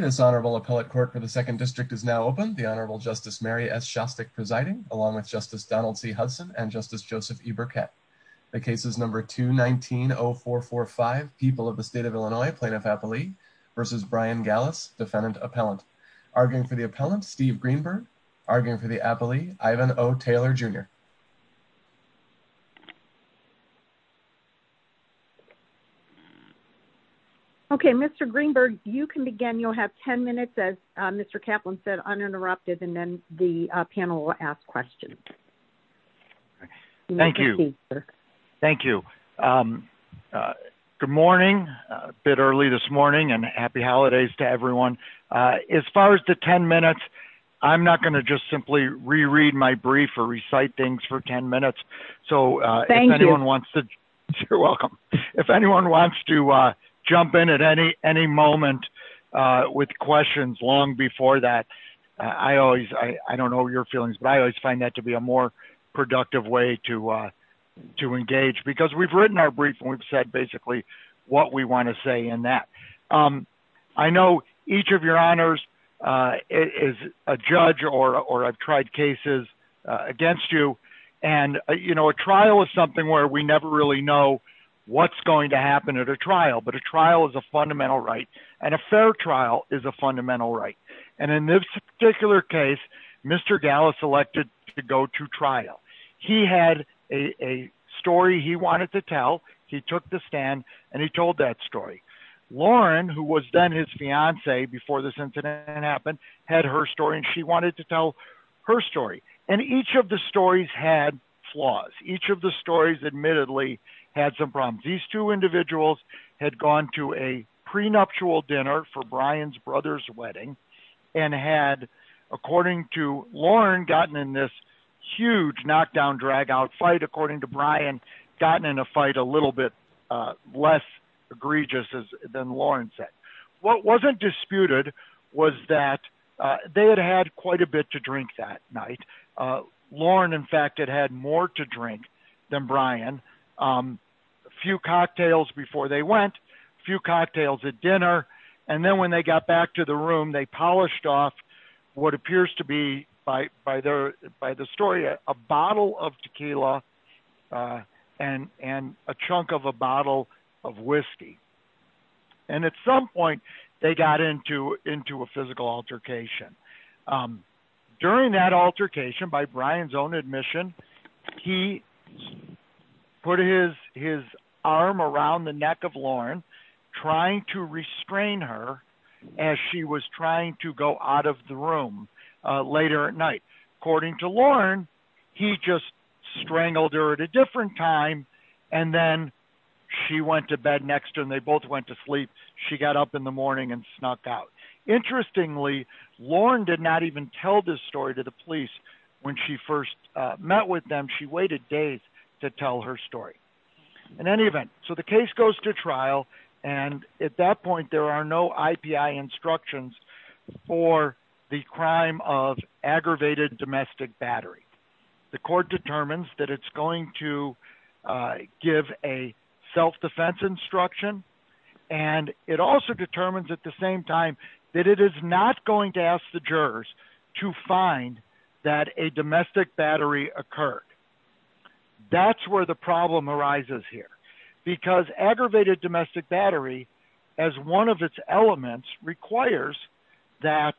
This honorable appellate court for the Second District is now open. The Honorable Justice Mary S. Shostak presiding, along with Justice Donald C. Hudson and Justice Joseph E. Burkett. The case is number 219-0445, People of the State of Illinois, Plaintiff-Appellee v. Brian Gallas, Defendant-Appellant. Arguing for the appellant, Steve Greenberg. Arguing for the appellant. Okay, Mr. Greenberg, you can begin. You'll have 10 minutes, as Mr. Kaplan said, uninterrupted, and then the panel will ask questions. Thank you. Thank you. Good morning. A bit early this morning, and happy holidays to everyone. As far as the 10 minutes, I'm not going to just simply reread my brief or recite things for 10 minutes. So if anyone wants to, you're welcome, if anyone wants to jump in at any moment with questions long before that, I always, I don't know your feelings, but I always find that to be a more productive way to engage. Because we've written our brief, and we've said basically what we want to say in that. I know each of your honors is a judge, or I've tried cases against you, and a trial is something where we never really know what's going to happen at a trial. But a trial is a fundamental right, and a fair trial is a fundamental right. And in this particular case, Mr. Gallas elected to go to trial. He had a story he wanted to tell, he took the stand, and he told that story. Lauren, who was then his fiancee before this incident happened, had her story, and she wanted to tell her story. And each of the stories had flaws. Each of the stories admittedly had some problems. These two individuals had gone to a prenuptial dinner for Brian's brother's wedding, and had, according to Lauren, gotten in this huge knockdown, drag out fight, according to Brian, gotten in a fight a little bit less egregious than Lauren said. What wasn't disputed was that they had had quite a bit to drink that night. Lauren, in fact, had had more to drink than Brian. A few cocktails before they went, a few cocktails at dinner, and then when they got back to the room, they polished off what appears to be, by the story, a bottle of tequila and a chunk of a bottle of whiskey. And at some point, they got into a physical altercation. During that altercation, by Brian's own admission, he put his arm around the neck of Lauren, trying to restrain her as she was trying to go out of the room later at night. According to Lauren, he just strangled her at a different time, and then she went to bed next to him. They both went to sleep. She got up in the morning and snuck out. Interestingly, Lauren did not even tell this story to the police when she first met with them. She waited days to tell her story. In any event, so the case goes to trial, and at that point, there are no IPI instructions for the crime of aggravated domestic battery. The court determines that it's going to give a self-defense instruction, and it also determines at the same time that it is not going to ask the jurors to find that a domestic battery occurred. That's where the problem arises here, because aggravated domestic battery, as one of its that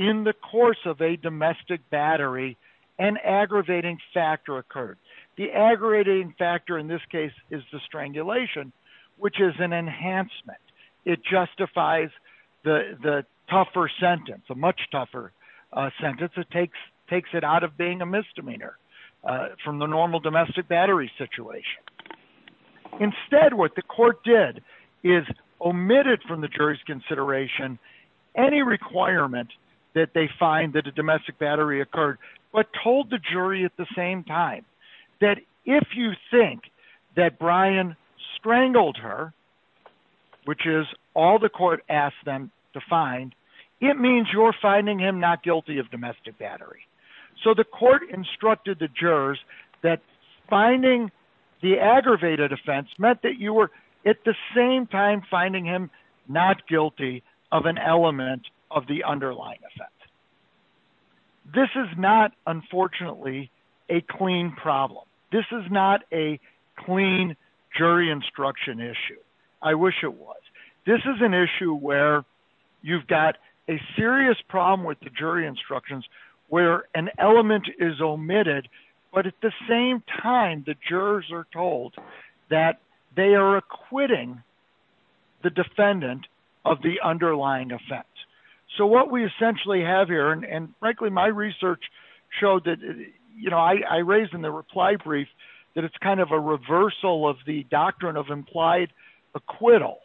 in the course of a domestic battery, an aggravating factor occurred. The aggravating factor in this case is the strangulation, which is an enhancement. It justifies the tougher sentence, a much tougher sentence. It takes it out of being a misdemeanor from the normal domestic battery situation. Instead, what the court did is omitted from the jury's consideration any requirement that they find that a domestic battery occurred, but told the jury at the same time that if you think that Brian strangled her, which is all the court asked them to find, it means you're finding him not guilty of domestic battery. The court instructed the jurors that finding the aggravated offense meant that you were at the same time finding him not guilty of an element of the underlying offense. This is not, unfortunately, a clean problem. This is not a clean jury instruction issue. I wish it was. This is an issue where you've got a serious problem with the jury instructions, where an element is omitted, but at the same time, the jurors are told that they are acquitting the defendant of the underlying offense. So what we essentially have here, and frankly, my research showed that I raised in the reply brief that it's kind of a reversal of the doctrine of implied acquittal,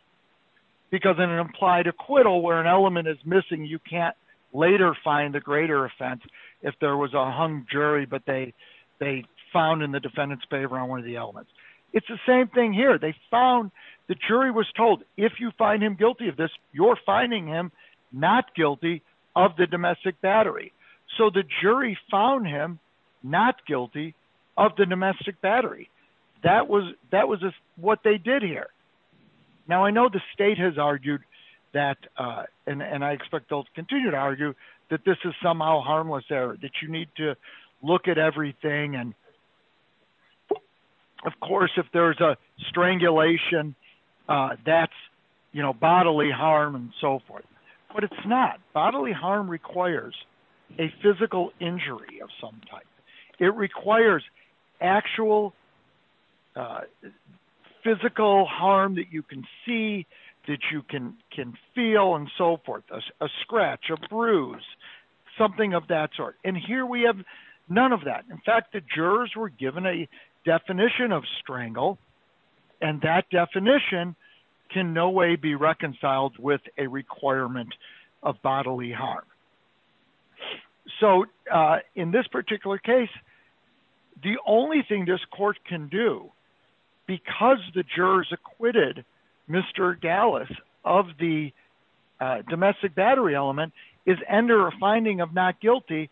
because in an implied acquittal where an element is missing, you can't later find a greater offense if there was a hung jury, but they found in the defendant's favor on one of the elements. It's the same thing here. They found the jury was told, if you find him guilty of this, you're finding him not guilty of the domestic battery. So the jury found him not guilty of the domestic battery. That was what they did here. Now, I know the state has argued that, and I expect they'll continue to argue, that this is somehow harmless error, that you need to look at everything, and of course, if there's a strangulation, that's bodily harm and so forth. But it's not. Bodily harm requires a physical injury of some type. It requires actual physical harm that you can see, that you can feel and so forth, a scratch, a bruise, something of that sort. And here we have none of that. In fact, the jurors were given a definition of strangle, and that definition can no way be reconciled with a requirement of bodily harm. So in this particular case, the only thing this court can do, because the jurors acquitted Mr. Dallas of the domestic battery element, is enter a finding of not guilty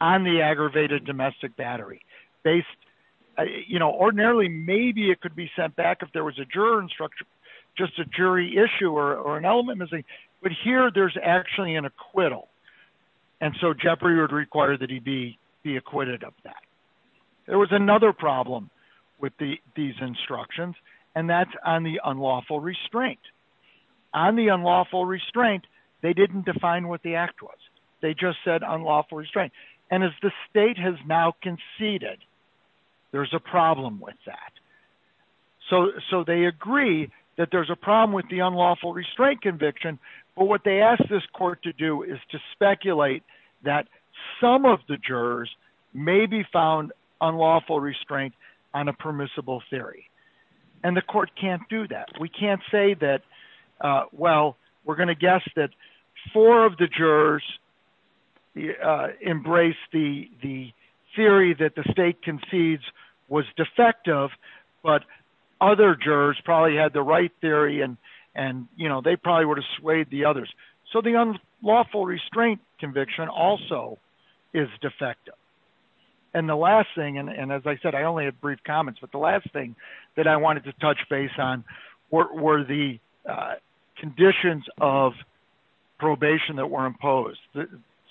on the aggravated domestic battery. Ordinarily, maybe it could be sent back if there was a juror instruction, just a jury issue or an element missing, but here there's actually an acquittal. And so Jeffrey would require that he be acquitted of that. There was another problem with these instructions, and that's on the unlawful restraint. On the unlawful restraint, they didn't define what the act was. They just said unlawful restraint. And as the state has now conceded, there's a problem with that. So they agree that there's a problem with the unlawful restraint conviction, but what they asked this court to do is to speculate that some of the jurors may be found unlawful restraint on a permissible theory. And the court can't do that. We can't say that, well, we're going to guess that four of the jurors embrace the theory that the state concedes was defective, but other jurors probably had the right theory and they probably would have swayed the others. So the unlawful restraint conviction also is defective. And the last thing, and as I said, I only have brief comments, but the last that I wanted to touch base on were the conditions of probation that were imposed,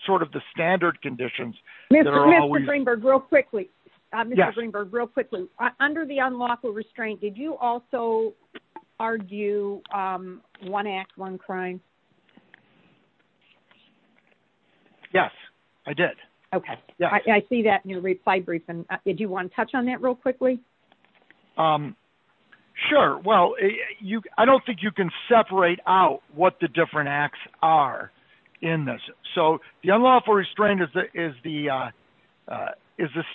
sort of the standard conditions. Mr. Greenberg, real quickly, under the unlawful restraint, did you also argue one act, one crime? Yes, I did. Okay. I see that in your reply briefing. Did you want to touch on that real quickly? Sure. Well, I don't think you can separate out what the different acts are in this. So the unlawful restraint is the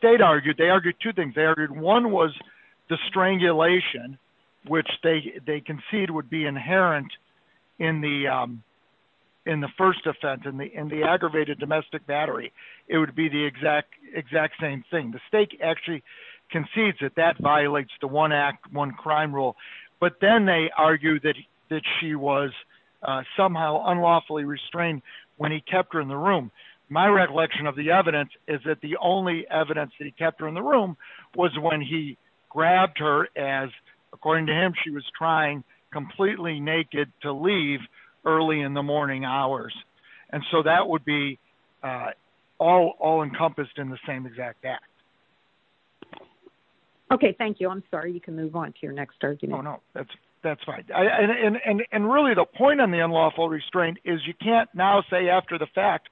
state argued. They argued two things. They argued one was the strangulation, which they concede would be inherent in the first offense, in the aggravated domestic battery. It would be the exact same thing. The state actually concedes that that violates the one act, one crime rule. But then they argue that she was somehow unlawfully restrained when he kept her in the room. My recollection of the evidence is that the only evidence that he kept her in the room was when he grabbed her as, according to him, she was trying completely naked to leave early in the morning hours. And so that would be all encompassed in the same exact act. Okay. Thank you. I'm sorry. You can move on to your next argument. Oh, no, that's fine. And really the point on the unlawful restraint is you can't now say after the fact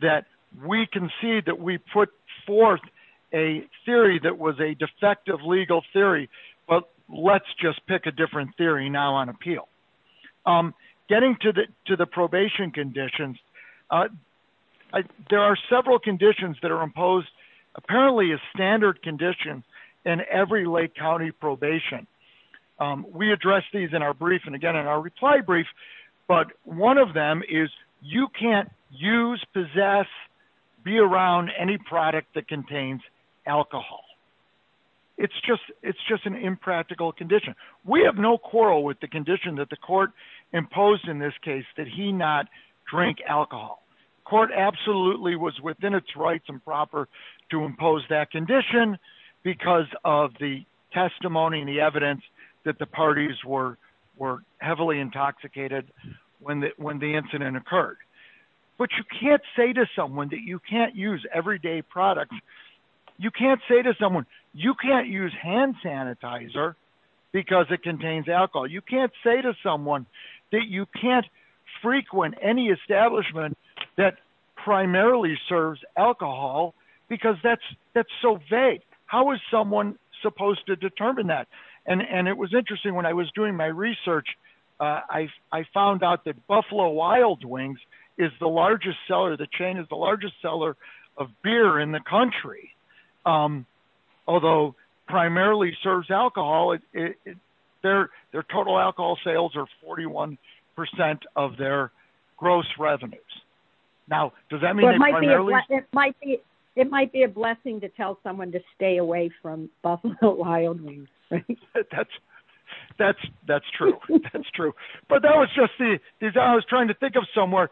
that we concede that we put forth a theory that was a defective legal theory, but let's just get into the probation conditions. There are several conditions that are imposed, apparently a standard condition in every Lake County probation. We address these in our brief and again in our reply brief, but one of them is you can't use, possess, be around any product that contains alcohol. It's just an impractical condition. We have no quarrel with the condition that the court imposed in this case that he not drink alcohol. Court absolutely was within its rights and proper to impose that condition because of the testimony and the evidence that the parties were heavily intoxicated when the incident occurred. But you can't say to someone that you can't use everyday products. You can't say to someone, you can't use hand sanitizer because it contains alcohol. You can't say to someone that you can't frequent any establishment that primarily serves alcohol because that's so vague. How is someone supposed to determine that? And it was interesting when I was doing my research, I found out that Buffalo Wild Wings is the largest seller, the chain is the largest seller of beer in the country, although primarily serves alcohol. Their total alcohol sales are 41% of their gross revenues. Now, does that mean primarily? It might be a blessing to tell someone to stay away from Buffalo Wild Wings. That's true. That's true. But that was just the design I was trying to distinguish.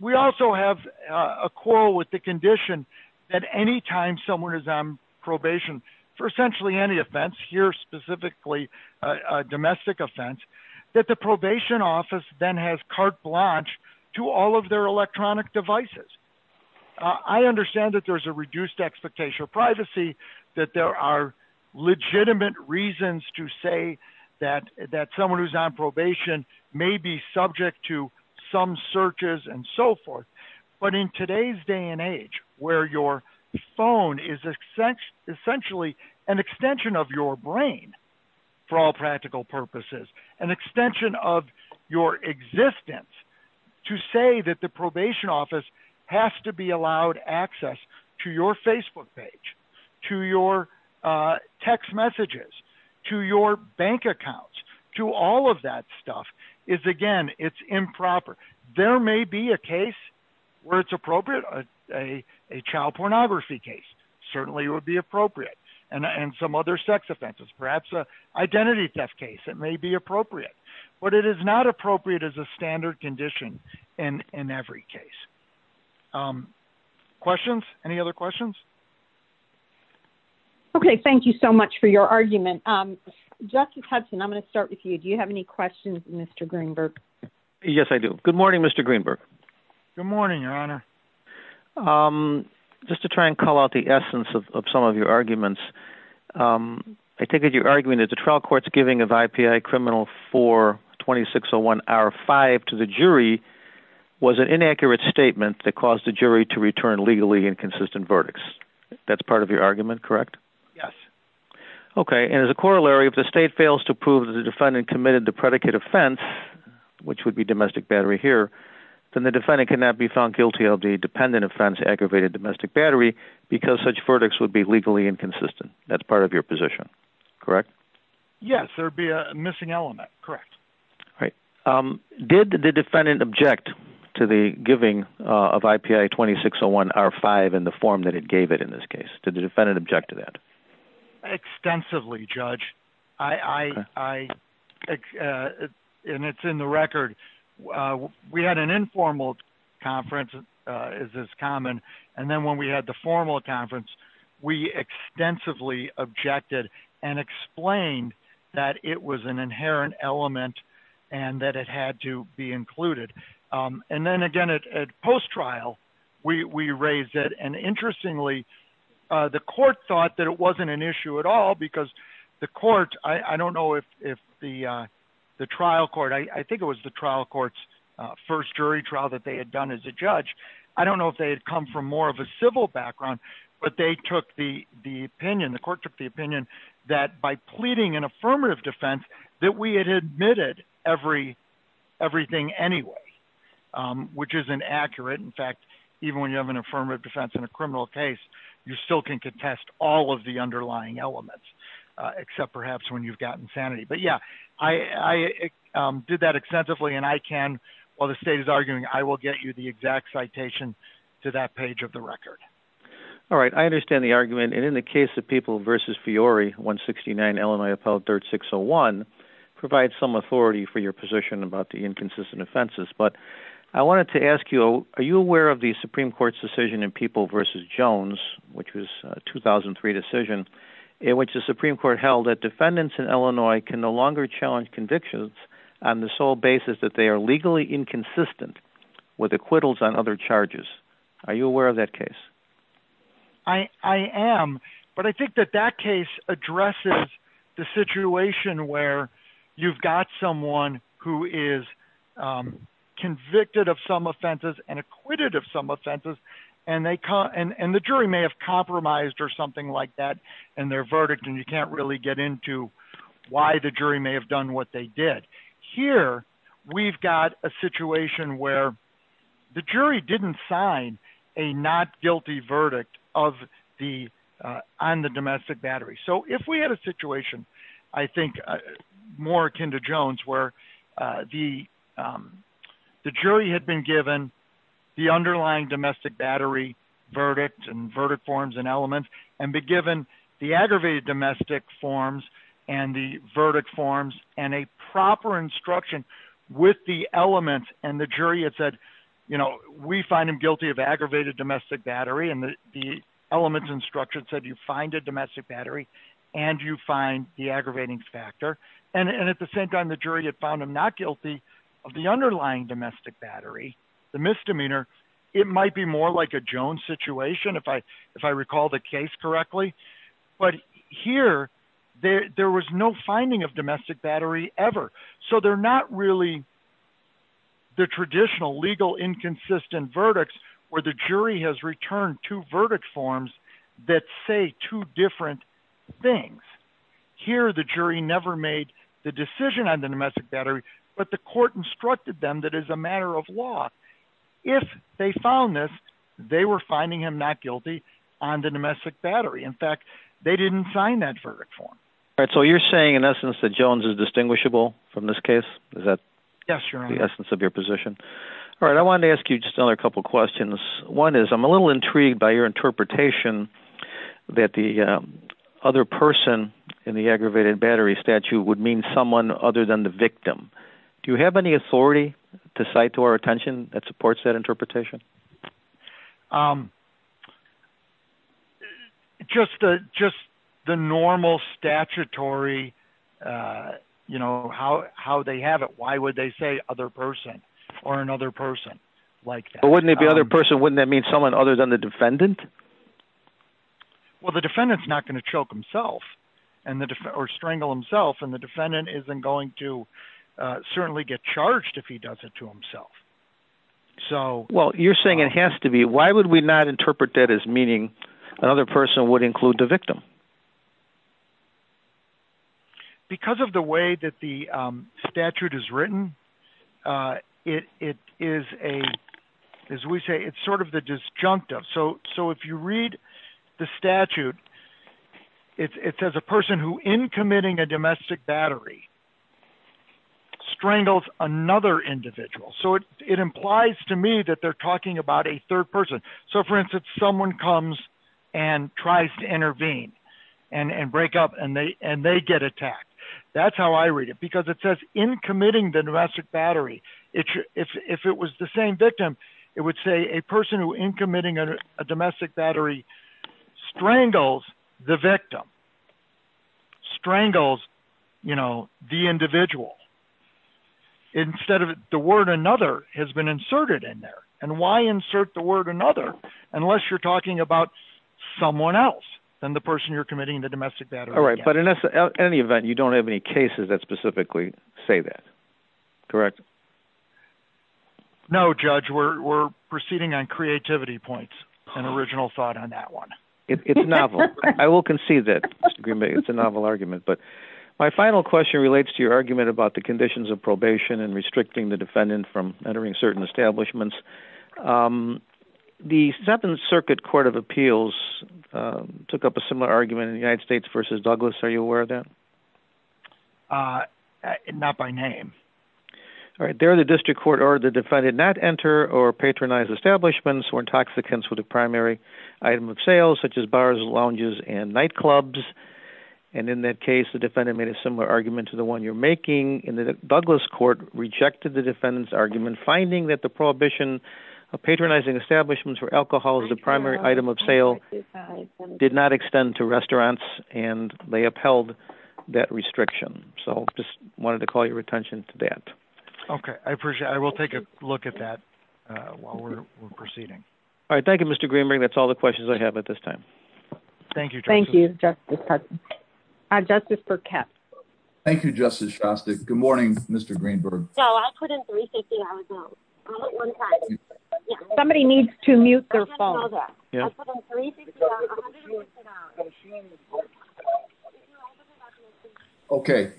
We also have a quarrel with the condition that anytime someone is on probation for essentially any offense, here specifically a domestic offense, that the probation office then has carte blanche to all of their electronic devices. I understand that there's a reduced expectation of privacy, that there are legitimate reasons to say that someone who's on probation may be subject to some searches and so forth. But in today's day and age where your phone is essentially an extension of your brain for all practical purposes, an extension of your existence to say that the probation office has to be allowed access to your Facebook page, to your bank accounts, to all of that stuff is, again, it's improper. There may be a case where it's appropriate, a child pornography case certainly would be appropriate, and some other sex offenses, perhaps an identity theft case, it may be appropriate. But it is not appropriate as a standard condition in every case. Questions? Any other questions? Okay. Thank you so much for your argument. Justice Hudson, I'm going to start with you. Do you have any questions, Mr. Greenberg? Yes, I do. Good morning, Mr. Greenberg. Good morning, Your Honor. Just to try and call out the essence of some of your arguments, I take it you're arguing that the trial court's giving of IPI criminal 4-2601-R5 to the jury was an inaccurate statement that caused the jury to return legally inconsistent verdicts. That's part of your argument, correct? Yes. Okay. And as a corollary, if the state fails to prove that the defendant committed the predicate offense, which would be domestic battery here, then the defendant cannot be found guilty of the dependent offense, aggravated domestic battery, because such verdicts would be legally inconsistent. That's part of your position, correct? Yes. There'd be a missing element, correct. All right. Did the defendant object to the giving of IPI-2601-R5 in the form that it gave it in this case? Did the defendant object to that? Extensively, Judge. And it's in the record. We had an informal conference, as is common. And then when we had the formal conference, we extensively objected and explained that it was inherent element and that it had to be included. And then again, at post-trial, we raised it. And interestingly, the court thought that it wasn't an issue at all, because the court, I don't know if the trial court, I think it was the trial court's first jury trial that they had done as a judge. I don't know if they had come from more of a civil background, but they took the opinion, the court took the opinion, that by pleading an affirmative defense, that we had admitted everything anyway, which isn't accurate. In fact, even when you have an affirmative defense in a criminal case, you still can contest all of the underlying elements, except perhaps when you've gotten sanity. But yeah, I did that extensively and I can, while the state is arguing, I will get you the exact citation to that page of the record. All right. I understand the argument. And in the case of People v. Fiore, 169 Illinois Appellate 3rd 601, provides some authority for your position about the inconsistent offenses. But I wanted to ask you, are you aware of the Supreme Court's decision in People v. Jones, which was a 2003 decision, in which the Supreme Court held that defendants in Illinois can no longer challenge convictions on the sole basis that they are legally inconsistent with acquittals on other charges? Are you aware of that case? I am, but I think that that case addresses the situation where you've got someone who is convicted of some offenses and acquitted of some offenses, and the jury may have compromised or something like that in their verdict, and you can't really get into why the jury may have done what they did. Here, we've got a situation where the jury didn't sign a not guilty verdict on the domestic battery. So if we had a situation, I think, more akin to Jones, where the jury had been given the underlying domestic battery verdict and verdict forms and elements, and be given the with the element, and the jury had said, you know, we find him guilty of aggravated domestic battery, and the elements instruction said, you find a domestic battery, and you find the aggravating factor. And at the same time, the jury had found him not guilty of the underlying domestic battery, the misdemeanor. It might be more like a Jones situation, if I recall the case correctly. But here, there was no finding of domestic battery ever. So they're not really the traditional legal inconsistent verdicts where the jury has returned two verdict forms that say two different things. Here, the jury never made the decision on the domestic battery, but the court instructed them that as a matter of law, if they found this, they were finding him not guilty on the domestic battery. In fact, they didn't sign that verdict form. All right. So you're saying in essence, that Jones is distinguishable from this case? Is that the essence of your position? All right. I wanted to ask you just another couple of questions. One is I'm a little intrigued by your interpretation that the other person in the aggravated battery statute would mean someone other than the victim. Do you have any authority to cite to our attention that supports that interpretation? It's just the normal statutory, how they have it. Why would they say other person or another person like that? But wouldn't it be other person, wouldn't that mean someone other than the defendant? Well, the defendant's not going to choke himself or strangle himself. And the defendant isn't going to certainly get charged if he does it to himself. Well, you're saying it has to be. Why would we not interpret that as meaning another person would include the victim? Because of the way that the statute is written, it is a, as we say, it's sort of the disjunctive. So if you read the statute, it says a person who in committing a domestic battery strangles another individual. So it implies to me that they're talking about a third person. So for instance, someone comes and tries to intervene and break up and they get attacked. That's how I read it because it says in committing the domestic battery, if it was the same victim, it would say a person who in committing a domestic battery strangles the victim, strangles the individual instead of the word another has been inserted in there. And why insert the word another, unless you're talking about someone else than the person you're committing the domestic battery against. All right. But in any event, you don't have any cases that specifically say that. Correct? No, Judge, we're proceeding on creativity points, an original thought on that one. It's novel. I will concede that it's a novel argument, but my final question relates to your argument about the conditions of probation and restricting the establishments. The Seventh Circuit Court of Appeals took up a similar argument in the United States versus Douglas. Are you aware of that? Not by name. All right. There, the district court or the defendant not enter or patronize establishments or intoxicants with a primary item of sales such as bars, lounges and nightclubs. And in that case, the defendant made a similar argument to the one you're making in the Douglas court, rejected the defendant's argument, finding that the prohibition of patronizing establishments for alcohol as a primary item of sale did not extend to restaurants and they upheld that restriction. So just wanted to call your attention to that. Okay. I appreciate it. I will take a look at that while we're proceeding. All right. Thank you, Mr. Greenberg. That's all the questions I have at this time. Thank you. Thank you, Justice. Uh, justice for cat. Thank you, Justice Shasta. Good morning, Mr Greenberg. Somebody needs to mute their phone. Okay,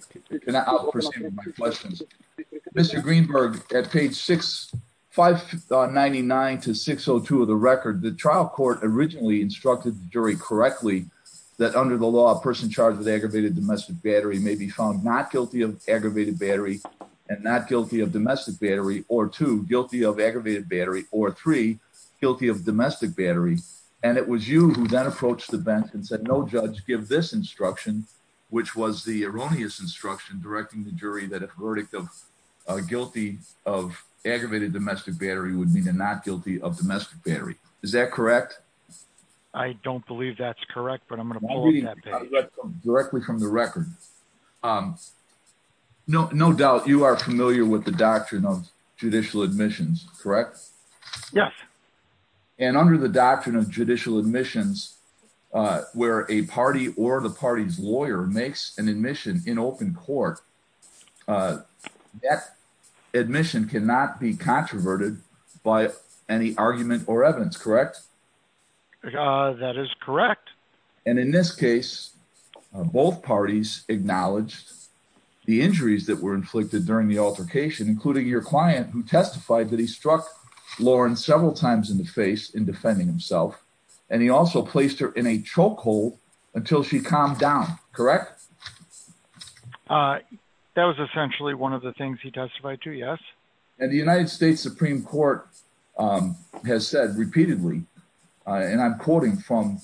I'll proceed with my questions. Mr Greenberg at page 65 99 to 602 of the record. The trial originally instructed the jury correctly that under the law, a person charged with aggravated domestic battery may be found not guilty of aggravated battery and not guilty of domestic battery or two guilty of aggravated battery or three guilty of domestic battery. And it was you who then approached the bench and said, no, judge, give this instruction, which was the erroneous instruction directing the jury that a verdict of guilty of aggravated domestic battery would mean not guilty of domestic battery. Is that correct? I don't believe that's correct, but I'm gonna directly from the record. Um, no, no doubt you are familiar with the doctrine of judicial admissions, correct? Yes. And under the doctrine of judicial admissions, uh, where a party or the any argument or evidence, correct? Uh, that is correct. And in this case, both parties acknowledged the injuries that were inflicted during the altercation, including your client who testified that he struck Lauren several times in the face in defending himself. And he also placed her in a chokehold until she calmed down, correct? Uh, that was essentially one of the things he testified to. Yes. And the United States Supreme Court, um, has said repeatedly, uh, and I'm quoting from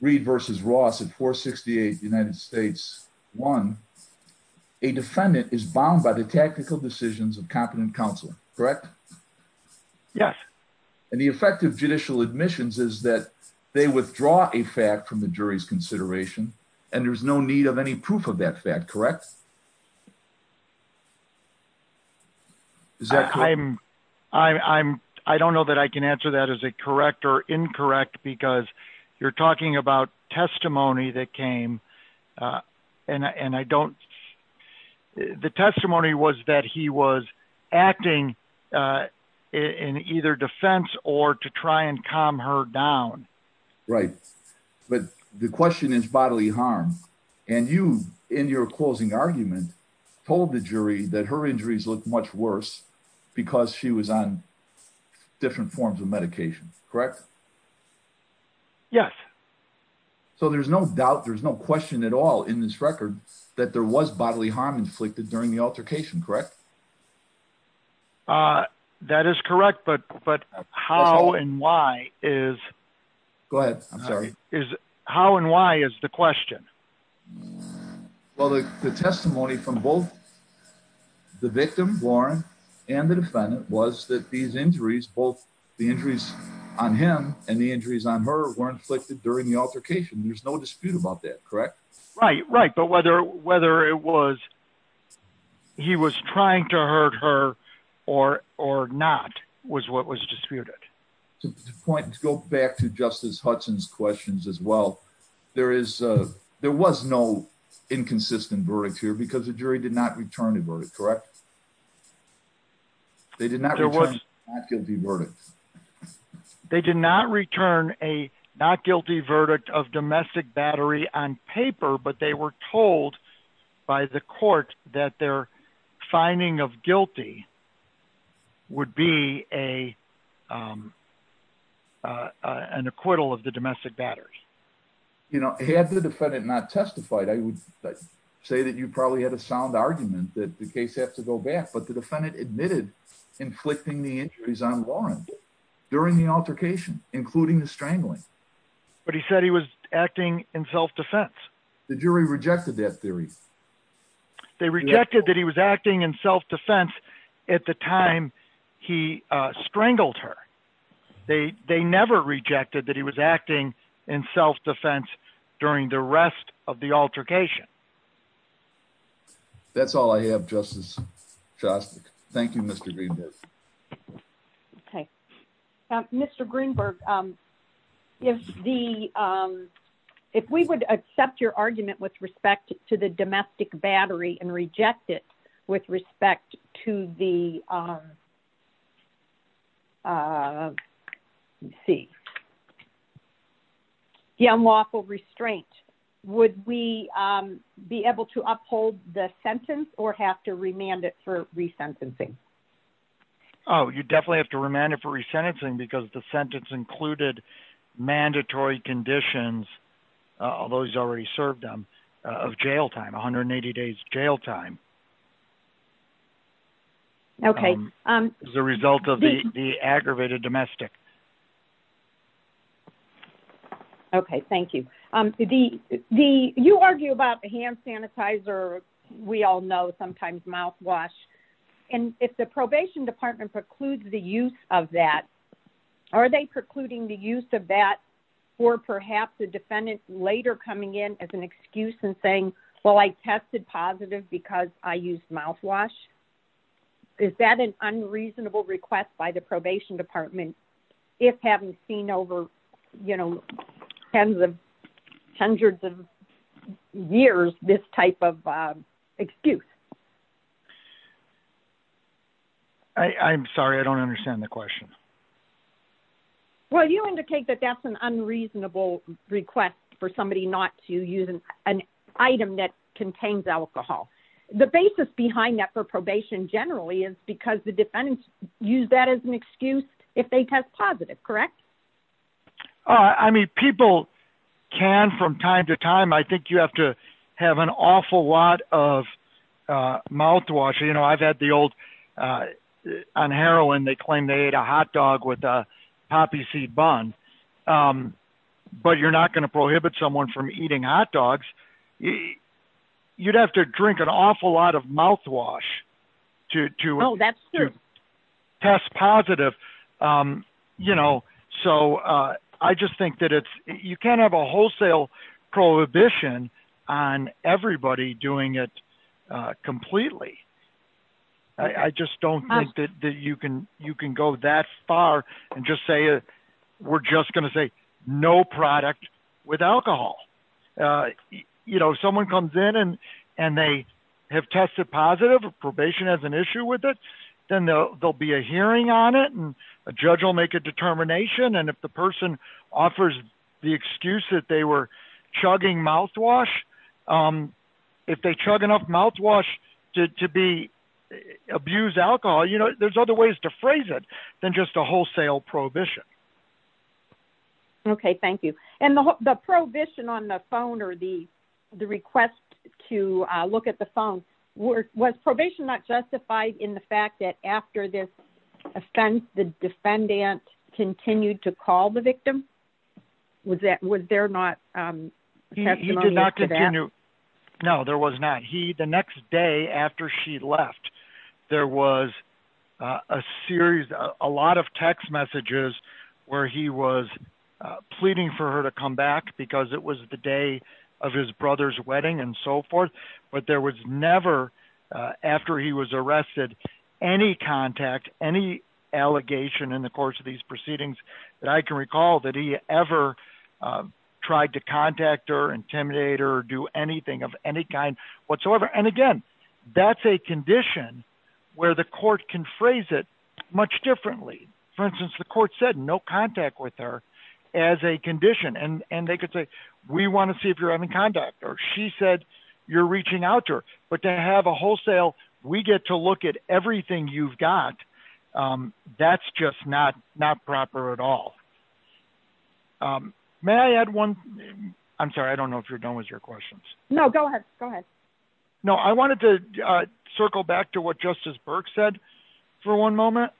Reed versus Ross at four 68 United States one. A defendant is bound by the tactical decisions of competent counsel, correct? Yes. And the effective judicial admissions is that they withdraw a fact from the jury's consideration and there's no need any proof of that fact, correct? Is that I'm, I'm, I don't know that I can answer that as a correct or incorrect because you're talking about testimony that came. Uh, and I, and I don't, the testimony was that he was acting, uh, in either defense or to try and calm her down. Right. But the question is bodily harm. And you in your closing argument told the jury that her injuries looked much worse because she was on different forms of medication, correct? Yes. So there's no doubt. There's no question at all in this record that there was bodily harm inflicted during the altercation, correct? Uh, that is correct. But, but how and why is, go ahead. I'm sorry. Is how and why is the question? Well, the testimony from both the victim Warren and the defendant was that these injuries, both the injuries on him and the injuries on her were inflicted during the altercation. There's no whether it was, he was trying to hurt her or, or not was what was disputed. The point to go back to justice Hudson's questions as well. There is a, there was no inconsistent verdict here because the jury did not return a verdict, correct? They did not, there was not guilty verdict. They did not return a not guilty verdict of domestic battery on paper, but they were told by the court that their finding of guilty would be a, um, uh, an acquittal of the domestic batters. You know, he had the defendant not testified. I would say that you probably had a sound argument that the case has to go back, but the defendant admitted inflicting the injuries on during the altercation, including the strangling. But he said he was acting in self-defense. The jury rejected that theory. They rejected that he was acting in self-defense at the time he, uh, strangled her. They, they never rejected that he was acting in self-defense during the rest of altercation. That's all I have. Justice. Thank you, Mr. Greenberg. Okay. Mr. Greenberg. Um, if the, um, if we would accept your argument with respect to the domestic battery and reject it with respect to the, um, uh, let's see the unlawful restraint, would we, um, be able to uphold the sentence or have to remand it for resentencing? Oh, you definitely have to remand it for resentencing because the sentence included mandatory conditions. Uh, although he's already served, um, uh, of jail time, 180 days jail time. Okay. Um, as a result of the aggravated domestic. Okay. Thank you. Um, the, the, you argue about the hand sanitizer, we all know sometimes mouthwash and if the probation department precludes the use of that, are they precluding the use of that for perhaps the defendant later coming in as an excuse and saying, well, I tested positive because I used mouthwash. Is that an unreasonable request by the probation department? If having seen over, you know, tens of hundreds of years, this type of, excuse. I I'm sorry. I don't understand the question. Well, you indicate that that's an unreasonable request for somebody not to use an item that contains alcohol. The basis behind that for probation generally is because the defendants use that as an excuse if they test positive, correct? Uh, I mean, people can, from time to time, I think you have to have an awful lot of, uh, mouthwash. You know, I've had the old, uh, on heroin, they claim they ate a hot dog with a poppy seed bun. Um, but you're not going to prohibit someone from eating hot dogs. You'd have to drink an awful lot of mouthwash to, to test positive. Um, you know, so, uh, I just think that it's, you can't have a wholesale prohibition on everybody doing it, uh, completely. I just don't think that you can, you can go that far and just say, we're just going to say no product with alcohol. Uh, you know, someone comes in and, and they have tested positive probation as an issue with it, then there'll be a hearing on it. And a judge will make a determination. And if the person offers the excuse that they were chugging mouthwash, um, if they chug enough mouthwash to, to be abused alcohol, you know, there's other ways to phrase it than just a wholesale prohibition. Okay. Thank you. And the, the prohibition on the phone or the, the request to look at the phone were, was probation not justified in the fact that after this offense, the defendant continued to call the victim? Was that, was there not, um, he did not continue. No, there was not. He, the next day after she left, there was a series, a lot of text messages where he was pleading for her to come back because it was the day of his brother's wedding and so forth. But there was never, uh, after he was arrested, any contact, any allegation in the course of these proceedings that I can recall that he ever, um, tried to contact or intimidate or do anything of any kind whatsoever. And again, that's a condition where the court can phrase it much differently. For instance, the court said no contact with her as a condition. And they could we want to see if you're having contact or she said you're reaching out to her, but to have a wholesale, we get to look at everything you've got. Um, that's just not, not proper at all. Um, may I add one? I'm sorry. I don't know if you're done with your questions. No, go ahead. Go ahead. No, I wanted to, uh, circle back to what justice Burke said for one moment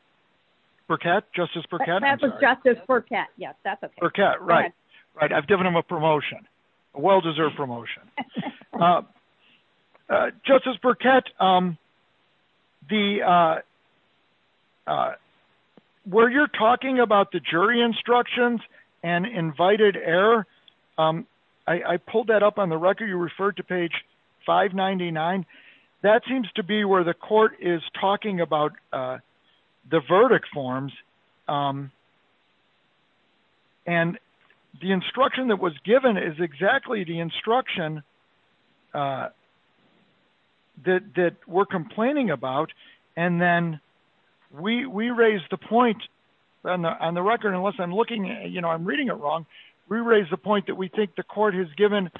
for cat justice for cat justice for cat. Yes, that's okay. Right. Right. I've given him a promotion, a well-deserved promotion, uh, uh, justice Burkett. Um, the, uh, uh, where you're talking about the jury instructions and invited air. Um, I, I pulled that up on the record. You referred to page five 99. That seems to be where the court is talking about, uh, the verdict forms. Um, and the instruction that was given is exactly the instruction, uh, that, that we're complaining about. And then we, we raised the point on the, on the record, unless I'm looking, you know, I'm reading it wrong. We raised the point that we think the court has given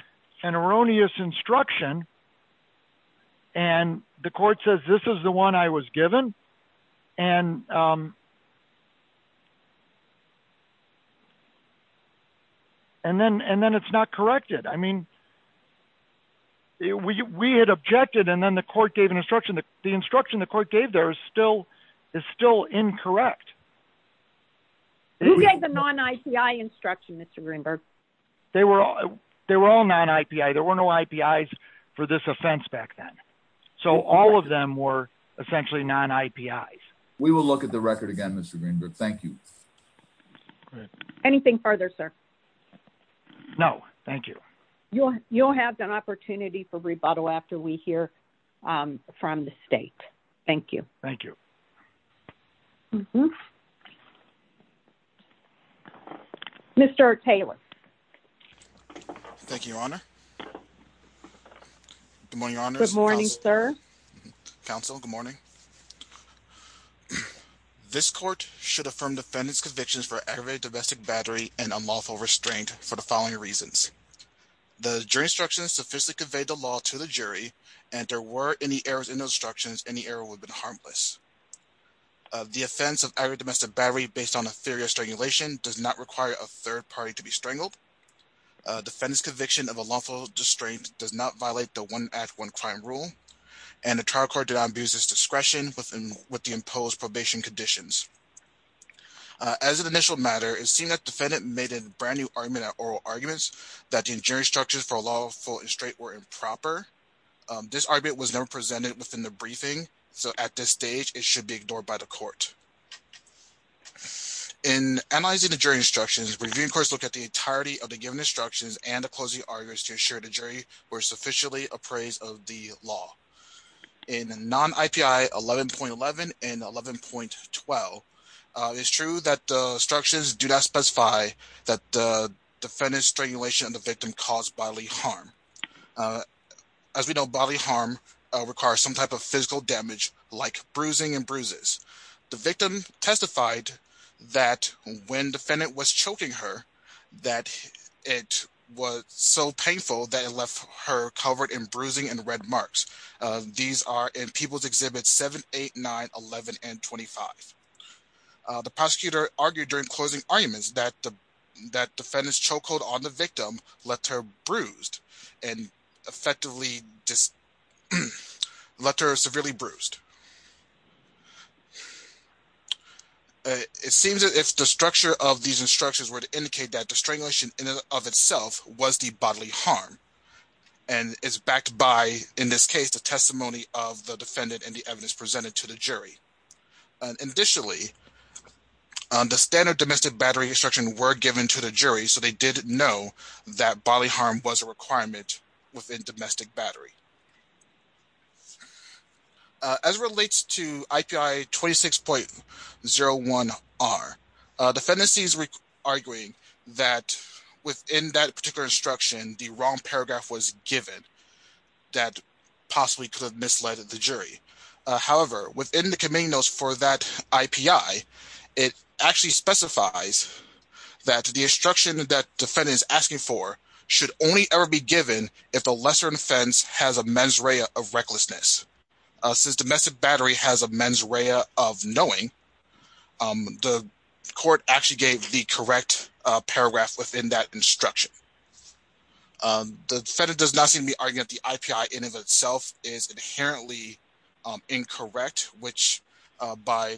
an erroneous instruction and the court says, this is the one I was given. And, um, and then, and then it's not corrected. I mean, we, we had objected and then the court gave an instruction that the instruction the court gave there is still, is still incorrect. You gave the non-IPI instruction, Mr. Greenberg. They were all, they were all non-IPI. There were no IPIs for this offense back then. So all of them were essentially non-IPIs. We will look at the record again, Mr. Greenberg. Thank you. Anything further, sir? No, thank you. You'll, you'll have an opportunity for rebuttal after we hear, um, from the state. Thank you. Thank you. Mm-hmm. Mr. Taylor. Thank you, Your Honor. Good morning, Your Honor. Good morning, sir. Counsel, good morning. This court should affirm defendant's convictions for aggravated domestic battery and unlawful restraint for the following reasons. The jury instructions sufficiently conveyed the law to the jury and there were any errors in the instructions and the error would have been the offense of aggravated domestic battery based on a theory of strangulation does not require a third party to be strangled. Defendant's conviction of a lawful restraint does not violate the one act one crime rule and the trial court did not abuse its discretion within with the imposed probation conditions. As an initial matter, it seemed that defendant made a brand new argument at oral arguments that the injury instructions for lawful restraint were improper. This argument was never presented within the briefing, so at this stage it should be ignored by the court. In analyzing the jury instructions, reviewing courts look at the entirety of the given instructions and the closing arguments to ensure the jury were sufficiently appraised of the law. In non-IPI 11.11 and 11.12, it's true that the instructions do not specify that the defendant's harm requires some type of physical damage like bruising and bruises. The victim testified that when defendant was choking her that it was so painful that it left her covered in bruising and red marks. These are in people's exhibits 7, 8, 9, 11, and 25. The prosecutor argued during closing arguments that the that defendant's chokehold on the victim left her bruised and effectively just let her severely bruised. It seems that if the structure of these instructions were to indicate that the strangulation of itself was the bodily harm and it's backed by in this case the testimony of the defendant and the evidence presented to the jury. Additionally, the standard domestic battery instruction were given to the jury so they did know that bodily harm was a requirement within domestic battery. As it relates to IPI 26.01R, the defendants are arguing that within that particular instruction the wrong paragraph was given that possibly could have misled the jury. However, within the committee notes for that IPI, it actually specifies that the instruction that defendant is asking for should only ever be given if the lesser offense has a mens rea of recklessness. Since domestic battery has a mens rea of knowing, the court actually gave the correct paragraph within that instruction. The defendant does not seem to be arguing that the IPI in and of itself is inherently incorrect, which by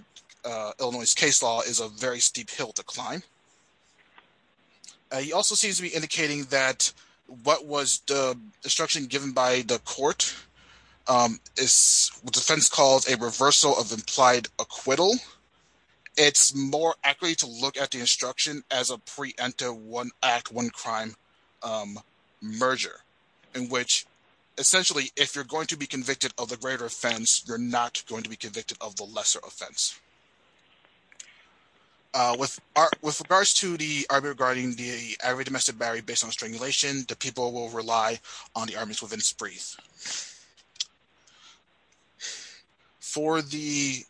Illinois case law is a very steep hill to climb. He also seems to be indicating that what was the instruction given by the court is what defense calls a reversal of implied acquittal. It's more accurate to look at the the greater offense, you're not going to be convicted of the lesser offense. With regards to the argument regarding the every domestic battery based on strangulation, the people will rely on the armies within sprees. For the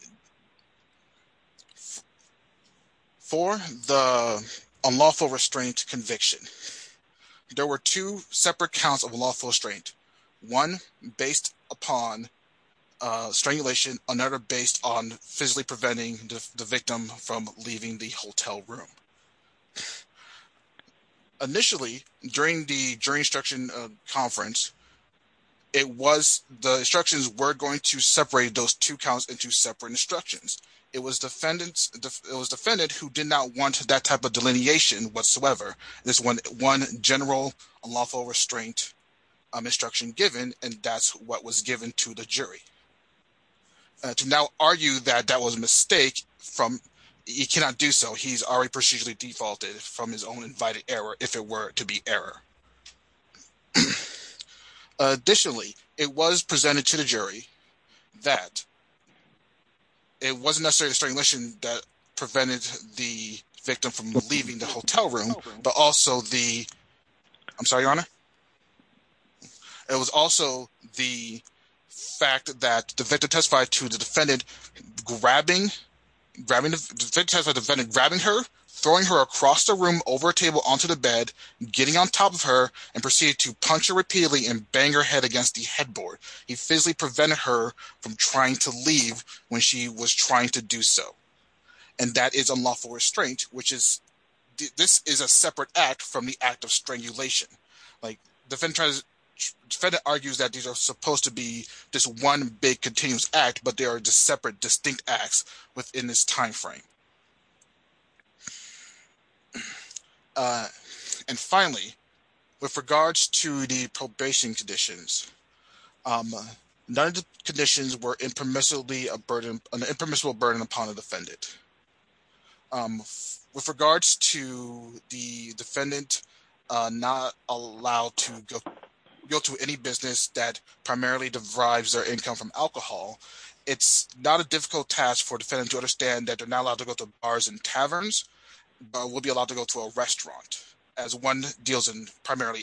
unlawful restraint conviction, there were two separate counts of lawful restraint. One based upon strangulation, another based on physically preventing the victim from leaving the hotel room. Initially, during the jury instruction conference, the instructions were going to separate those two counts into separate instructions. It was defendants who did not want that type of delineation whatsoever. There's one general unlawful restraint instruction given and that's what was given to the jury. To now argue that that was a mistake, he cannot do so. He's already procedurally defaulted from his own invited error if it were to be error. Additionally, it was presented to the jury that it wasn't necessarily strangulation that prevented the victim from leaving the hotel room, but also the, I'm sorry, your honor. It was also the fact that the victim testified to the defendant, grabbing, grabbing, grabbing her, throwing her across the room, over a table, onto the bed, getting on top of her and proceeded to punch her repeatedly and bang her head against the headboard. He physically prevented her from trying to leave when she was trying to do so. And that is unlawful restraint, which is, this is a separate act from the act of strangulation. Like, the defendant argues that these are supposed to be this one big continuous act, but they are just separate distinct acts within this time frame. And finally, with regards to the probation conditions, none of the conditions were impermissibly a burden, an impermissible burden upon the defendant. With regards to the defendant not allowed to go to any business that primarily derives their income from alcohol, it's not a difficult task for defendants to understand that they're not allowed to go to bars and taverns, but will be allowed to go to a restaurant as one deals in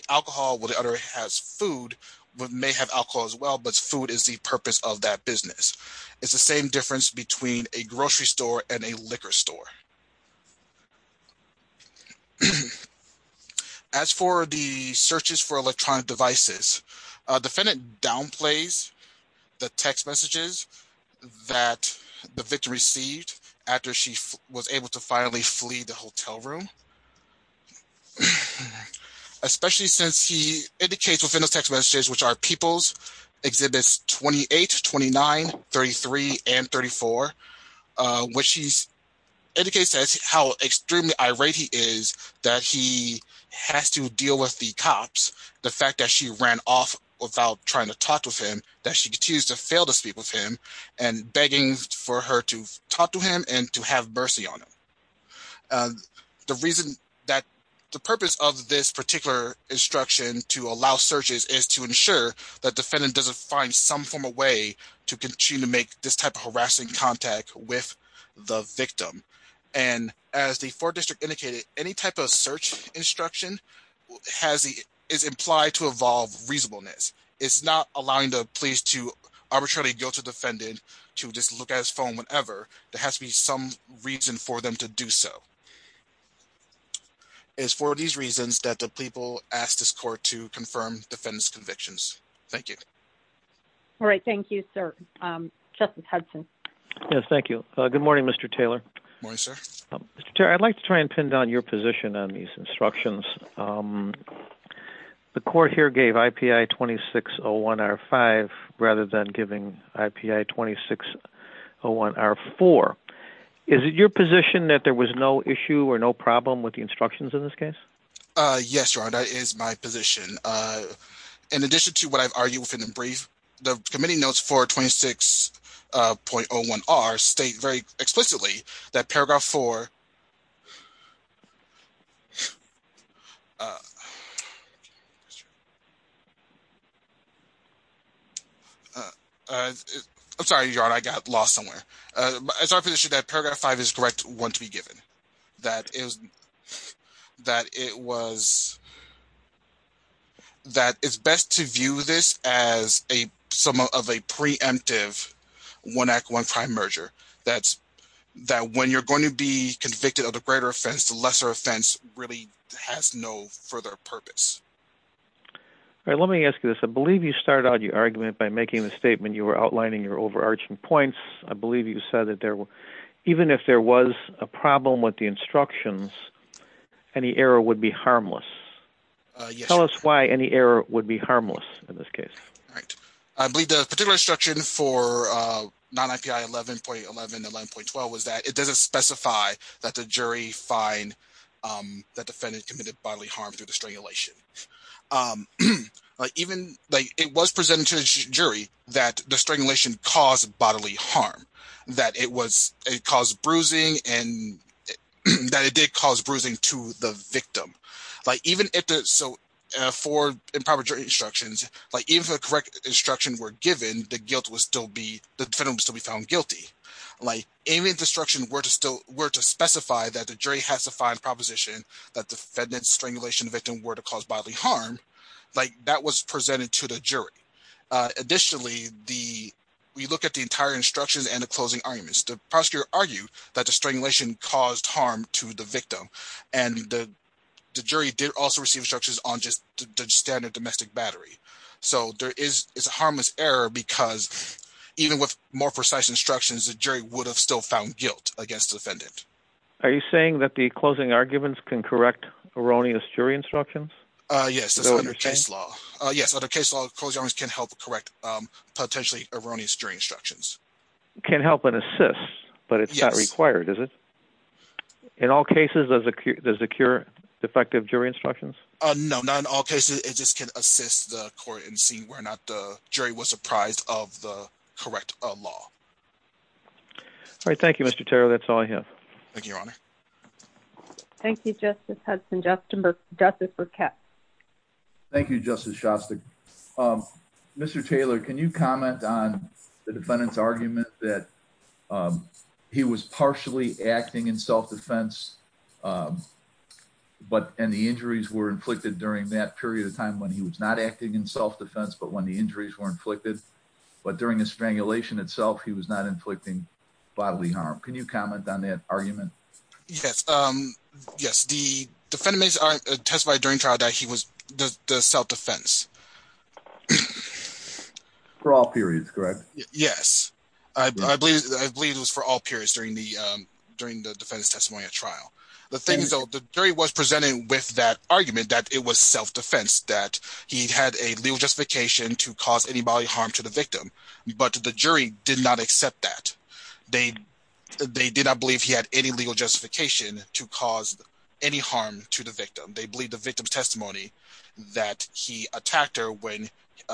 alcohol, while the other has food, but may have alcohol as well, but food is the purpose of that business. It's the same difference between a grocery store and a liquor store. As for the searches for electronic devices, defendant downplays the text messages that the victim received after she was able to finally flee the hotel room. So, especially since he indicates within those text messages, which are people's exhibits 28, 29, 33, and 34, which indicates how extremely irate he is that he has to deal with the cops, the fact that she ran off without trying to talk to him, that she continues to fail to speak with the victim. The purpose of this particular instruction to allow searches is to ensure that defendant doesn't find some form of way to continue to make this type of harassing contact with the victim. As the 4th District indicated, any type of search instruction is implied to involve reasonableness. It's not allowing the police to arbitrarily go to defendant to just look at his phone whenever there has to be some reason for them to do so. It's for these reasons that the people asked this court to confirm defendant's convictions. Thank you. All right. Thank you, sir. Justice Hudson. Yes, thank you. Good morning, Mr. Taylor. Morning, sir. Mr. Taylor, I'd like to try and pin down your position on these instructions. The court here gave IPI 2601R5 rather than giving IPI 2601R4. Is it your position that there was no issue or no problem with the instructions in this case? Yes, Your Honor, that is my position. In addition to what I've argued within the brief, the committee notes for 26.01R state very explicitly that paragraph 4... I'm sorry, Your Honor, I got lost somewhere. It's our position that paragraph 5 is correct one to be given. That it's best to view this as some of a preemptive one act, one crime merger. That when you're going to be convicted of a greater offense, the lesser offense really has no further purpose. All right. Let me ask you this. I believe you started out your argument by making the statement you were outlining your overarching points. I believe you said that even if there was a problem with the instructions, any error would be harmless. Tell us why any error would be harmless in this case. Right. I believe the particular instruction for non-IPI 11.11 and 11.12 was that it doesn't specify that the jury find that defendant committed bodily harm through the strangulation. It was presented to the jury that the strangulation caused bodily harm. That it did cause bruising to the victim. For improper jury instructions, even if the correct instructions were given, the defendant would still be found guilty. Even if the instructions were to specify that the jury has to find proposition that the defendant's strangulation victim were to cause bodily harm, that was presented to the jury. Additionally, we look at the entire instructions and the closing arguments. The prosecutor argued that the strangulation caused harm to the victim and the jury did also receive instructions on just the standard domestic battery. There is a harmless error because even with more precise instructions, the jury would have still found guilt against the defendant. Are you saying that the closing arguments can correct erroneous jury instructions? Yes, that's under case law. Yes, under case law, closing arguments can help correct potentially erroneous jury instructions. Can help and assist, but it's not required, is it? In all cases, does it cure defective jury instructions? No, not in all cases, it just can assist the court in seeing whether or not the jury was surprised of the correct law. All right. Thank you, Mr. Taylor. That's all I have. Thank you, Your Honor. Thank you, Justice Hudson, Justin Burke, Jessica Katz. Thank you, Justice Shasta. Mr. Taylor, can you comment on the defendant's argument that he was partially acting in self defense? Um, but and the injuries were inflicted during that period of time when he was not acting in self defense, but when the injuries were inflicted, but during the strangulation itself, he was not inflicting bodily harm. Can you comment on that argument? Yes, um, yes, the defendants are testified during trial that he was the self defense. For all periods, correct? Yes, I believe I believe it was for all periods during the during the defense testimony at trial. The thing is, the jury was presented with that argument that it was self defense, that he had a legal justification to cause any bodily harm to the victim. They did not believe he had any legal justification to cause any harm to the victim. They believe the victim's testimony that he attacked her when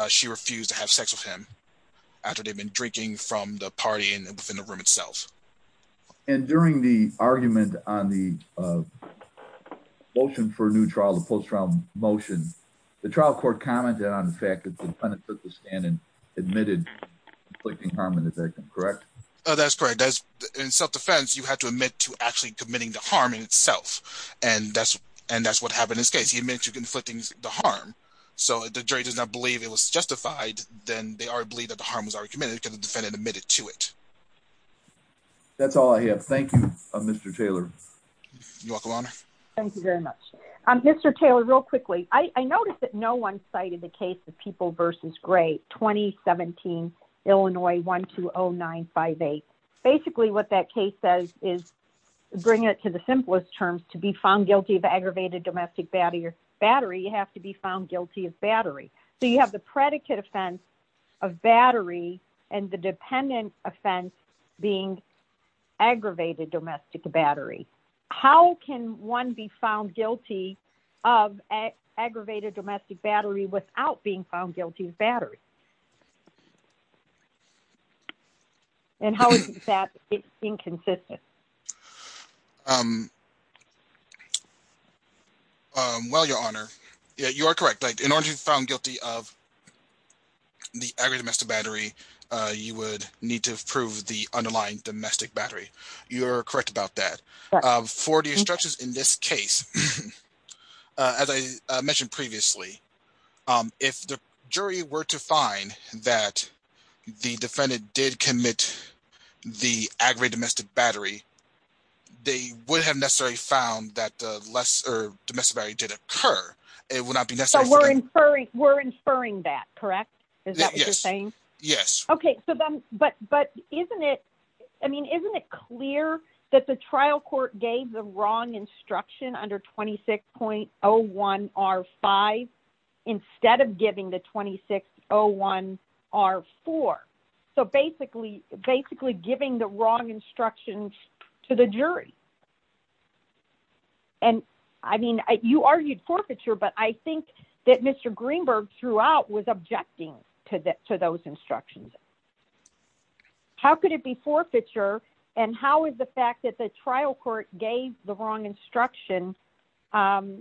she refused to have sex with him after they've been drinking from the party and within the room itself. And during the argument on the motion for a new trial, the post round motion, the trial court commented on the fact that the Oh, that's correct. That's in self defense, you have to admit to actually committing the harm in itself. And that's, and that's what happened in this case, he admits to conflicting the harm. So the jury does not believe it was justified, then they are believe that the harm was already committed to the defendant admitted to it. That's all I have. Thank you, Mr. Taylor. Thank you very much. Mr. Taylor, real quickly, I noticed that no one cited the case of people versus great 2017, Illinois 120958. Basically, what that case says is, bring it to the simplest terms to be found guilty of aggravated domestic battery or battery, you have to be found guilty of battery. So you have the predicate offense of battery and the dependent offense being aggravated domestic battery. How can one be found guilty of aggravated domestic battery without being found guilty of battery? And how is that inconsistent? Well, Your Honor, you're correct. In order to be found guilty of the aggravated domestic battery, you would need to prove the underlying domestic battery. You're correct about that. For the instructions in this case, as I mentioned previously, if the jury were to find that the defendant did commit the aggravated domestic battery, they would have necessarily found that the lesser domestic battery did occur, it would not be necessary. We're inferring that, correct? Is that what you're saying? Yes. Okay. But isn't it clear that the trial court gave the wrong instruction under 26.01R5 instead of giving the 26.01R4? So basically, giving the wrong instructions to the jury. And I mean, you argued forfeiture, but I think that Mr. Greenberg throughout was objecting to those instructions. How could it be forfeiture? And how is the fact that the trial court gave the wrong instruction, or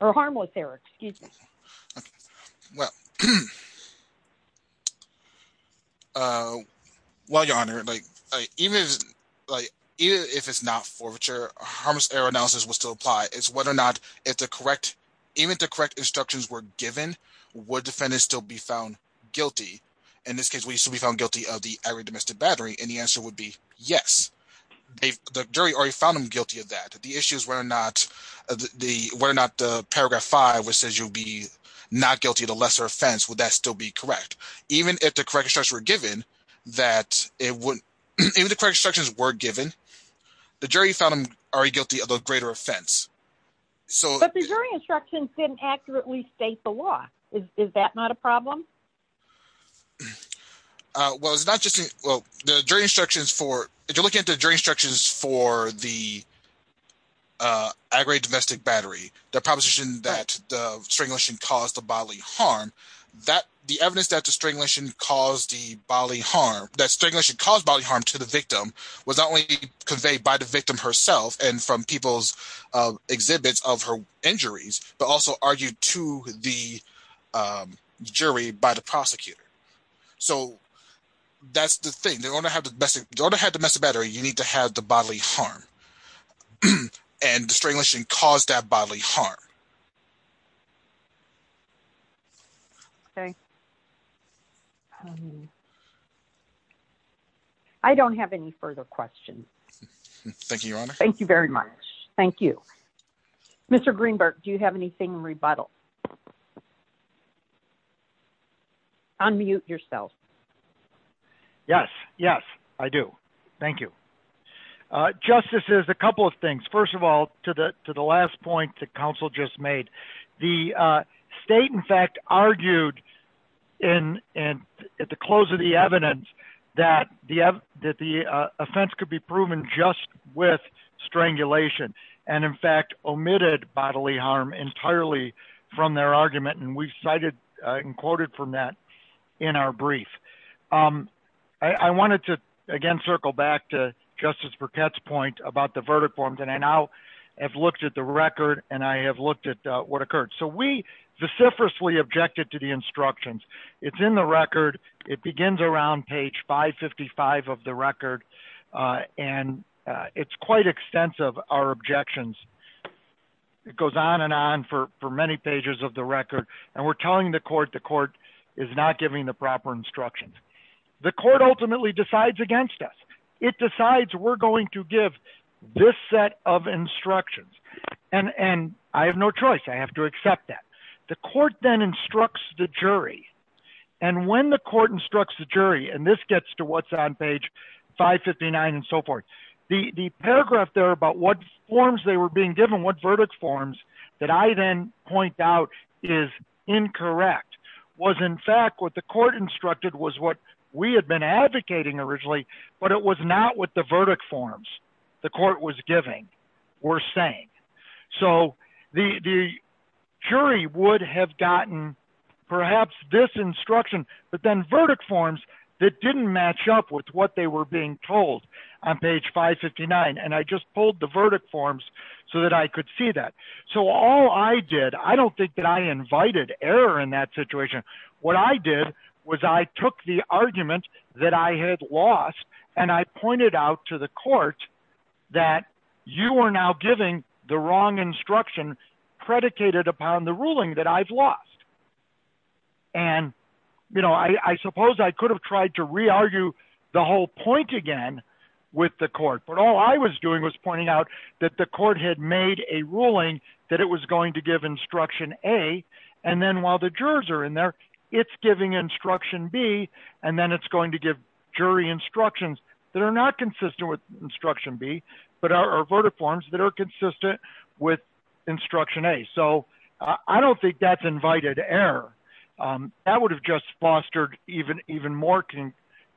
harmless error, excuse me? Well, Your Honor, even if it's not forfeiture, harmless error analysis will still apply. It's whether or not, even if the correct instructions were given, would the defendant still be found guilty? In this case, we should found guilty of the aggravated domestic battery, and the answer would be yes. The jury already found him guilty of that. The issue is whether or not the paragraph 5, which says you'll be not guilty of the lesser offense, would that still be correct? Even if the correct instructions were given, the jury found him already guilty of the greater offense. But the jury instructions didn't accurately state the law. Is that not a problem? Well, it's not just, well, the jury instructions for, if you're looking at the jury instructions for the aggravated domestic battery, the proposition that the strangulation caused the bodily harm, that the evidence that the strangulation caused the bodily harm, that strangulation caused bodily harm to the victim, was not only conveyed by the victim herself, and from people's exhibits of her That's the thing. The owner had the domestic battery. You need to have the bodily harm and strangulation caused that bodily harm. Okay. I don't have any further questions. Thank you, Your Honor. Thank you very much. Thank you. Mr. Greenberg, do you have anything in rebuttal? Unmute yourself. Yes. Yes, I do. Thank you. Justice, there's a couple of things. First of all, to the last point that counsel just made, the state, in fact, argued at the close of the evidence that the offense could be proven just with strangulation, and in fact, omitted bodily harm entirely from their argument, and we cited and quoted from that in our brief. I wanted to, again, circle back to Justice Burkett's point about the verdict forms, and I now have looked at the record, and I have looked at what occurred. So we vociferously objected to the instructions. It's in the record. It begins around page 555 of the record, and it's quite extensive, our objections. It goes on and on for many pages of the record, and we're telling the court the court is not giving the proper instructions. The court ultimately decides against us. It decides we're going to give this set of instructions, and I have no choice. I have to accept that. The court then instructs the jury, and when the court instructs the jury, and this gets to what's on page 559 and so forth, the paragraph there about what forms they were being given, what verdict forms, that I then point out is incorrect, was in fact what the court instructed was what we had been advocating originally, but it was not what the verdict forms the court was giving were saying. So the jury would have gotten perhaps this instruction, but then verdict forms that didn't match up with what they were being told on page 559, and I just pulled the verdict forms so that I could see that. So all I did, I don't think that I invited error in that situation. What I did was I took the argument that I had lost, and I pointed out to the court that you are now giving the wrong instruction predicated upon the ruling that I've lost, and I suppose I could have tried to re-argue the whole point again with the court, but all I was doing was pointing out that the court had made a ruling that it was going to give instruction A, and then while the jurors are in there, it's giving instruction B, and then it's going to give jury instructions that are not consistent with instruction B, but are verdict forms that are error. That would have just fostered even more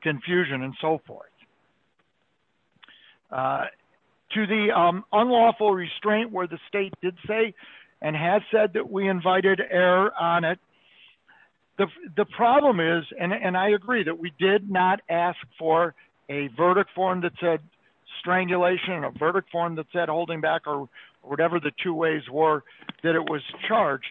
confusion and so forth. To the unlawful restraint where the state did say and has said that we invited error on it, the problem is, and I agree that we did not ask for a verdict form that said strangulation, a verdict form that said holding back or whatever the two ways were that it was charged.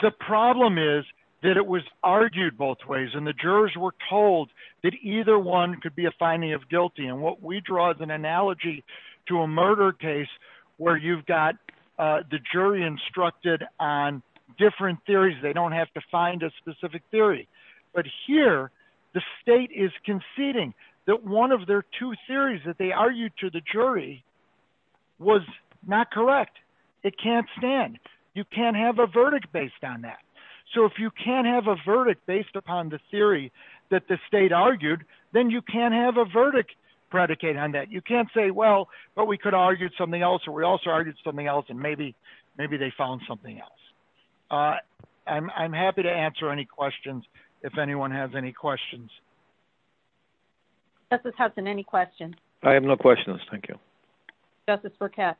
The problem is that it was argued both ways, and the jurors were told that either one could be a finding of guilty, and what we draw is an analogy to a murder case where you've got the jury instructed on different theories. They don't have to find a specific theory, but here the state is conceding that one of their two theories that they argued to the jury was not correct. It can't stand. You can't have a verdict based on that, so if you can't have a verdict based upon the theory that the state argued, then you can't have a verdict predicate on that. You can't say, well, but we could argue something else, or we also argued something else, and maybe they found something else. I'm happy to answer any questions if anyone has any questions. Justice Hudson, any questions? I have no questions. Thank you. Justice Burkett?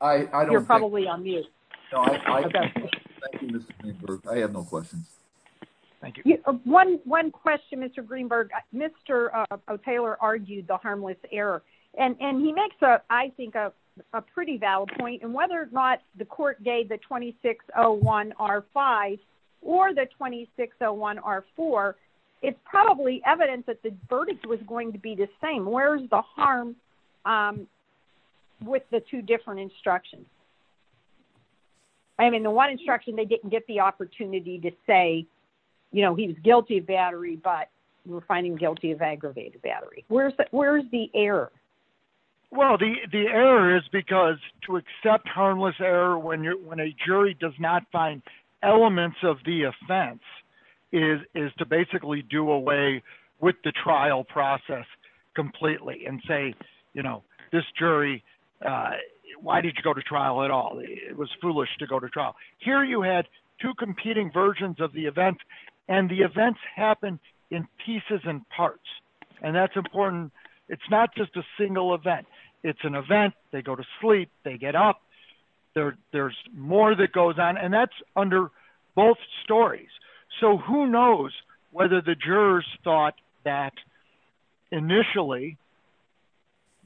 I don't think... You're probably on mute. Thank you, Mr. Greenberg. I have no questions. Thank you. One question, Mr. Greenberg. Mr. O'Taylor argued the harmless error, and he makes, I think, a pretty valid point, and whether or not the court gave the 2601R5 or the 2601R4, it's probably evidence that the verdict was going to be the same. Where's the harm with the two different instructions? I mean, the one instruction, they didn't get the opportunity to say he was guilty of battery, but we're finding guilty of aggravated battery. Where's the error? Well, the error is because to accept harmless error when a jury does not find elements of the do away with the trial process completely and say, this jury, why did you go to trial at all? It was foolish to go to trial. Here, you had two competing versions of the event, and the events happened in pieces and parts, and that's important. It's not just a single event. It's an event. They go to sleep. They get up. There's more that goes on, and that's under both stories, so who knows whether the jurors thought that initially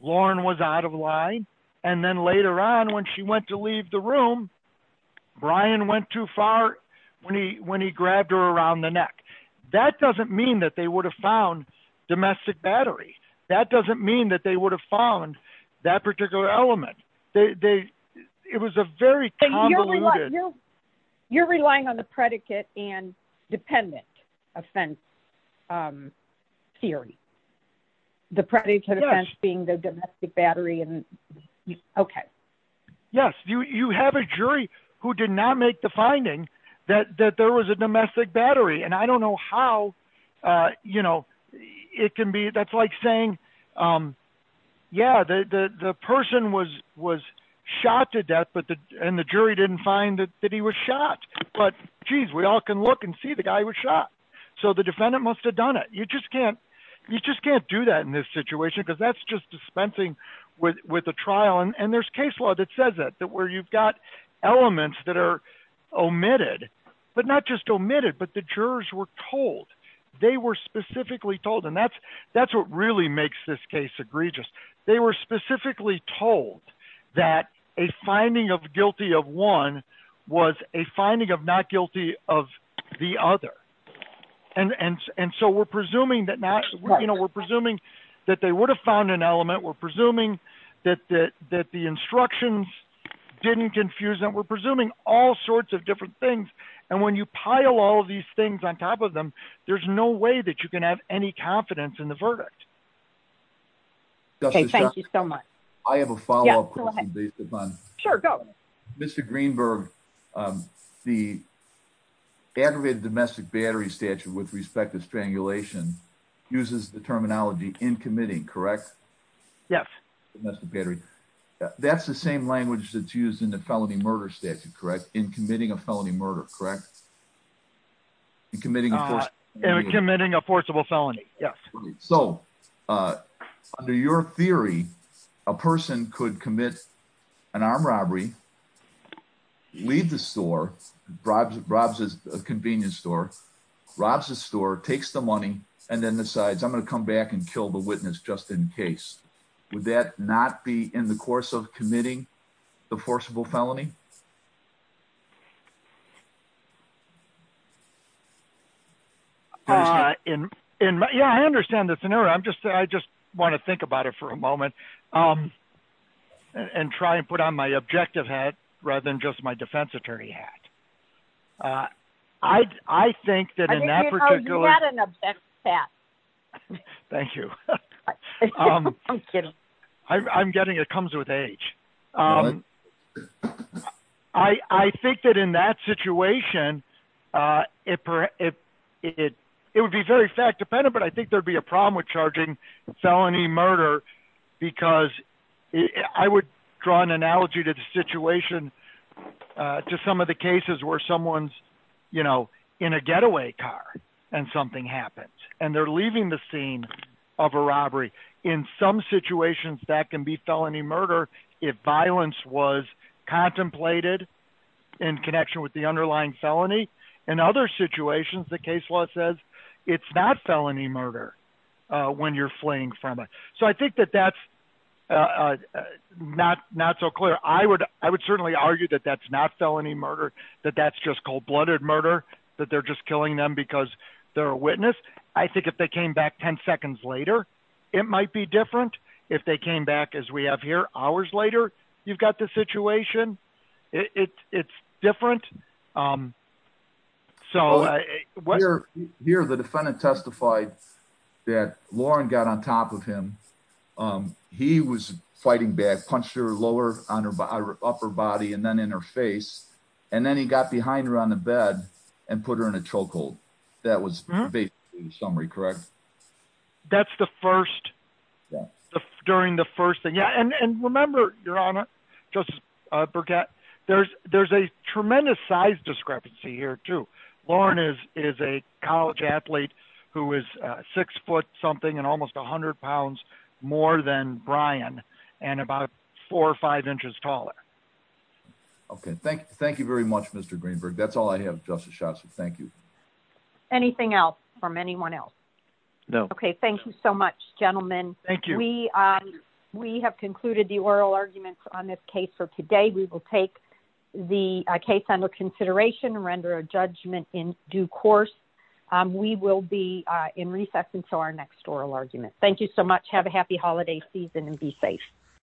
Lauren was out of line, and then later on when she went to leave the room, Brian went too far when he grabbed her around the neck. That doesn't mean that they would have found domestic battery. That doesn't mean that they would have found that particular element. They, it was a very convoluted. You're relying on the predicate and dependent offense theory. The predicate offense being the domestic battery, and okay. Yes, you have a jury who did not make the finding that there was a domestic battery, and I don't know how, you know, it can that's like saying, yeah, the person was shot to death, and the jury didn't find that he was shot, but geez, we all can look and see the guy was shot, so the defendant must have done it. You just can't do that in this situation because that's just dispensing with the trial, and there's case law that says that where you've got elements that are omitted, but not just omitted, but the really makes this case egregious. They were specifically told that a finding of guilty of one was a finding of not guilty of the other, and so we're presuming that, you know, we're presuming that they would have found an element. We're presuming that the instructions didn't confuse them. We're presuming all sorts of different things, and when you pile all of these things on top of them, there's no way that you can have any confidence in the verdict. Okay, thank you so much. I have a follow-up question. Sure, go. Mr. Greenberg, the aggravated domestic battery statute with respect to strangulation uses the terminology in committing, correct? Yes. Domestic battery, that's the same language that's used in the felony murder statute, correct? In committing a felony murder, correct? In committing a forcible felony, yes. So, under your theory, a person could commit an armed robbery, leave the store, robs a convenience store, robs the store, takes the money, and then decides, I'm going to come back and kill the witness just in case. Would that not be in the course of committing the crime? Yeah, I understand the scenario. I just want to think about it for a moment and try and put on my objective hat rather than just my defense attorney hat. I think that in that particular... Oh, you had an objective hat. Thank you. I'm kidding. I'm kidding. It comes with age. I think that in that situation, it would be very fact-dependent, but I think there'd be a problem with charging felony murder because I would draw an analogy to the situation to some of the cases where someone's in a getaway car and something happens, and they're leaving the scene of a robbery. In some situations, that can be felony murder if violence was contemplated in connection with the underlying felony. In other situations, the case law says it's not felony murder when you're fleeing from it. So, I think that that's not so clear. I would certainly argue that that's not felony murder, that that's just cold-blooded murder, that they're just killing them because they're witnesses. I think if they came back 10 seconds later, it might be different. If they came back, as we have here, hours later, you've got the situation. It's different. Here, the defendant testified that Lauren got on top of him. He was fighting back, punched her lower on her upper body and then in her face, and then he got behind her on the bed and put her in a chokehold. That was basically the summary, correct? That's the first, yeah, during the first thing. Yeah, and remember, Your Honor, Justice Burkett, there's a tremendous size discrepancy here too. Lauren is a college athlete who is six foot something and almost 100 pounds more than Brian and about four or five inches taller. Okay, thank you very much, Mr. Greenberg. That's all I have, Justice Schotts. Thank you. Anything else from anyone else? No. Okay, thank you so much, gentlemen. Thank you. We have concluded the oral arguments on this case for today. We will take the case under consideration, render a judgment in due course. We will be in recess until our next oral argument. Thank you so much. Have a happy holiday season and be safe.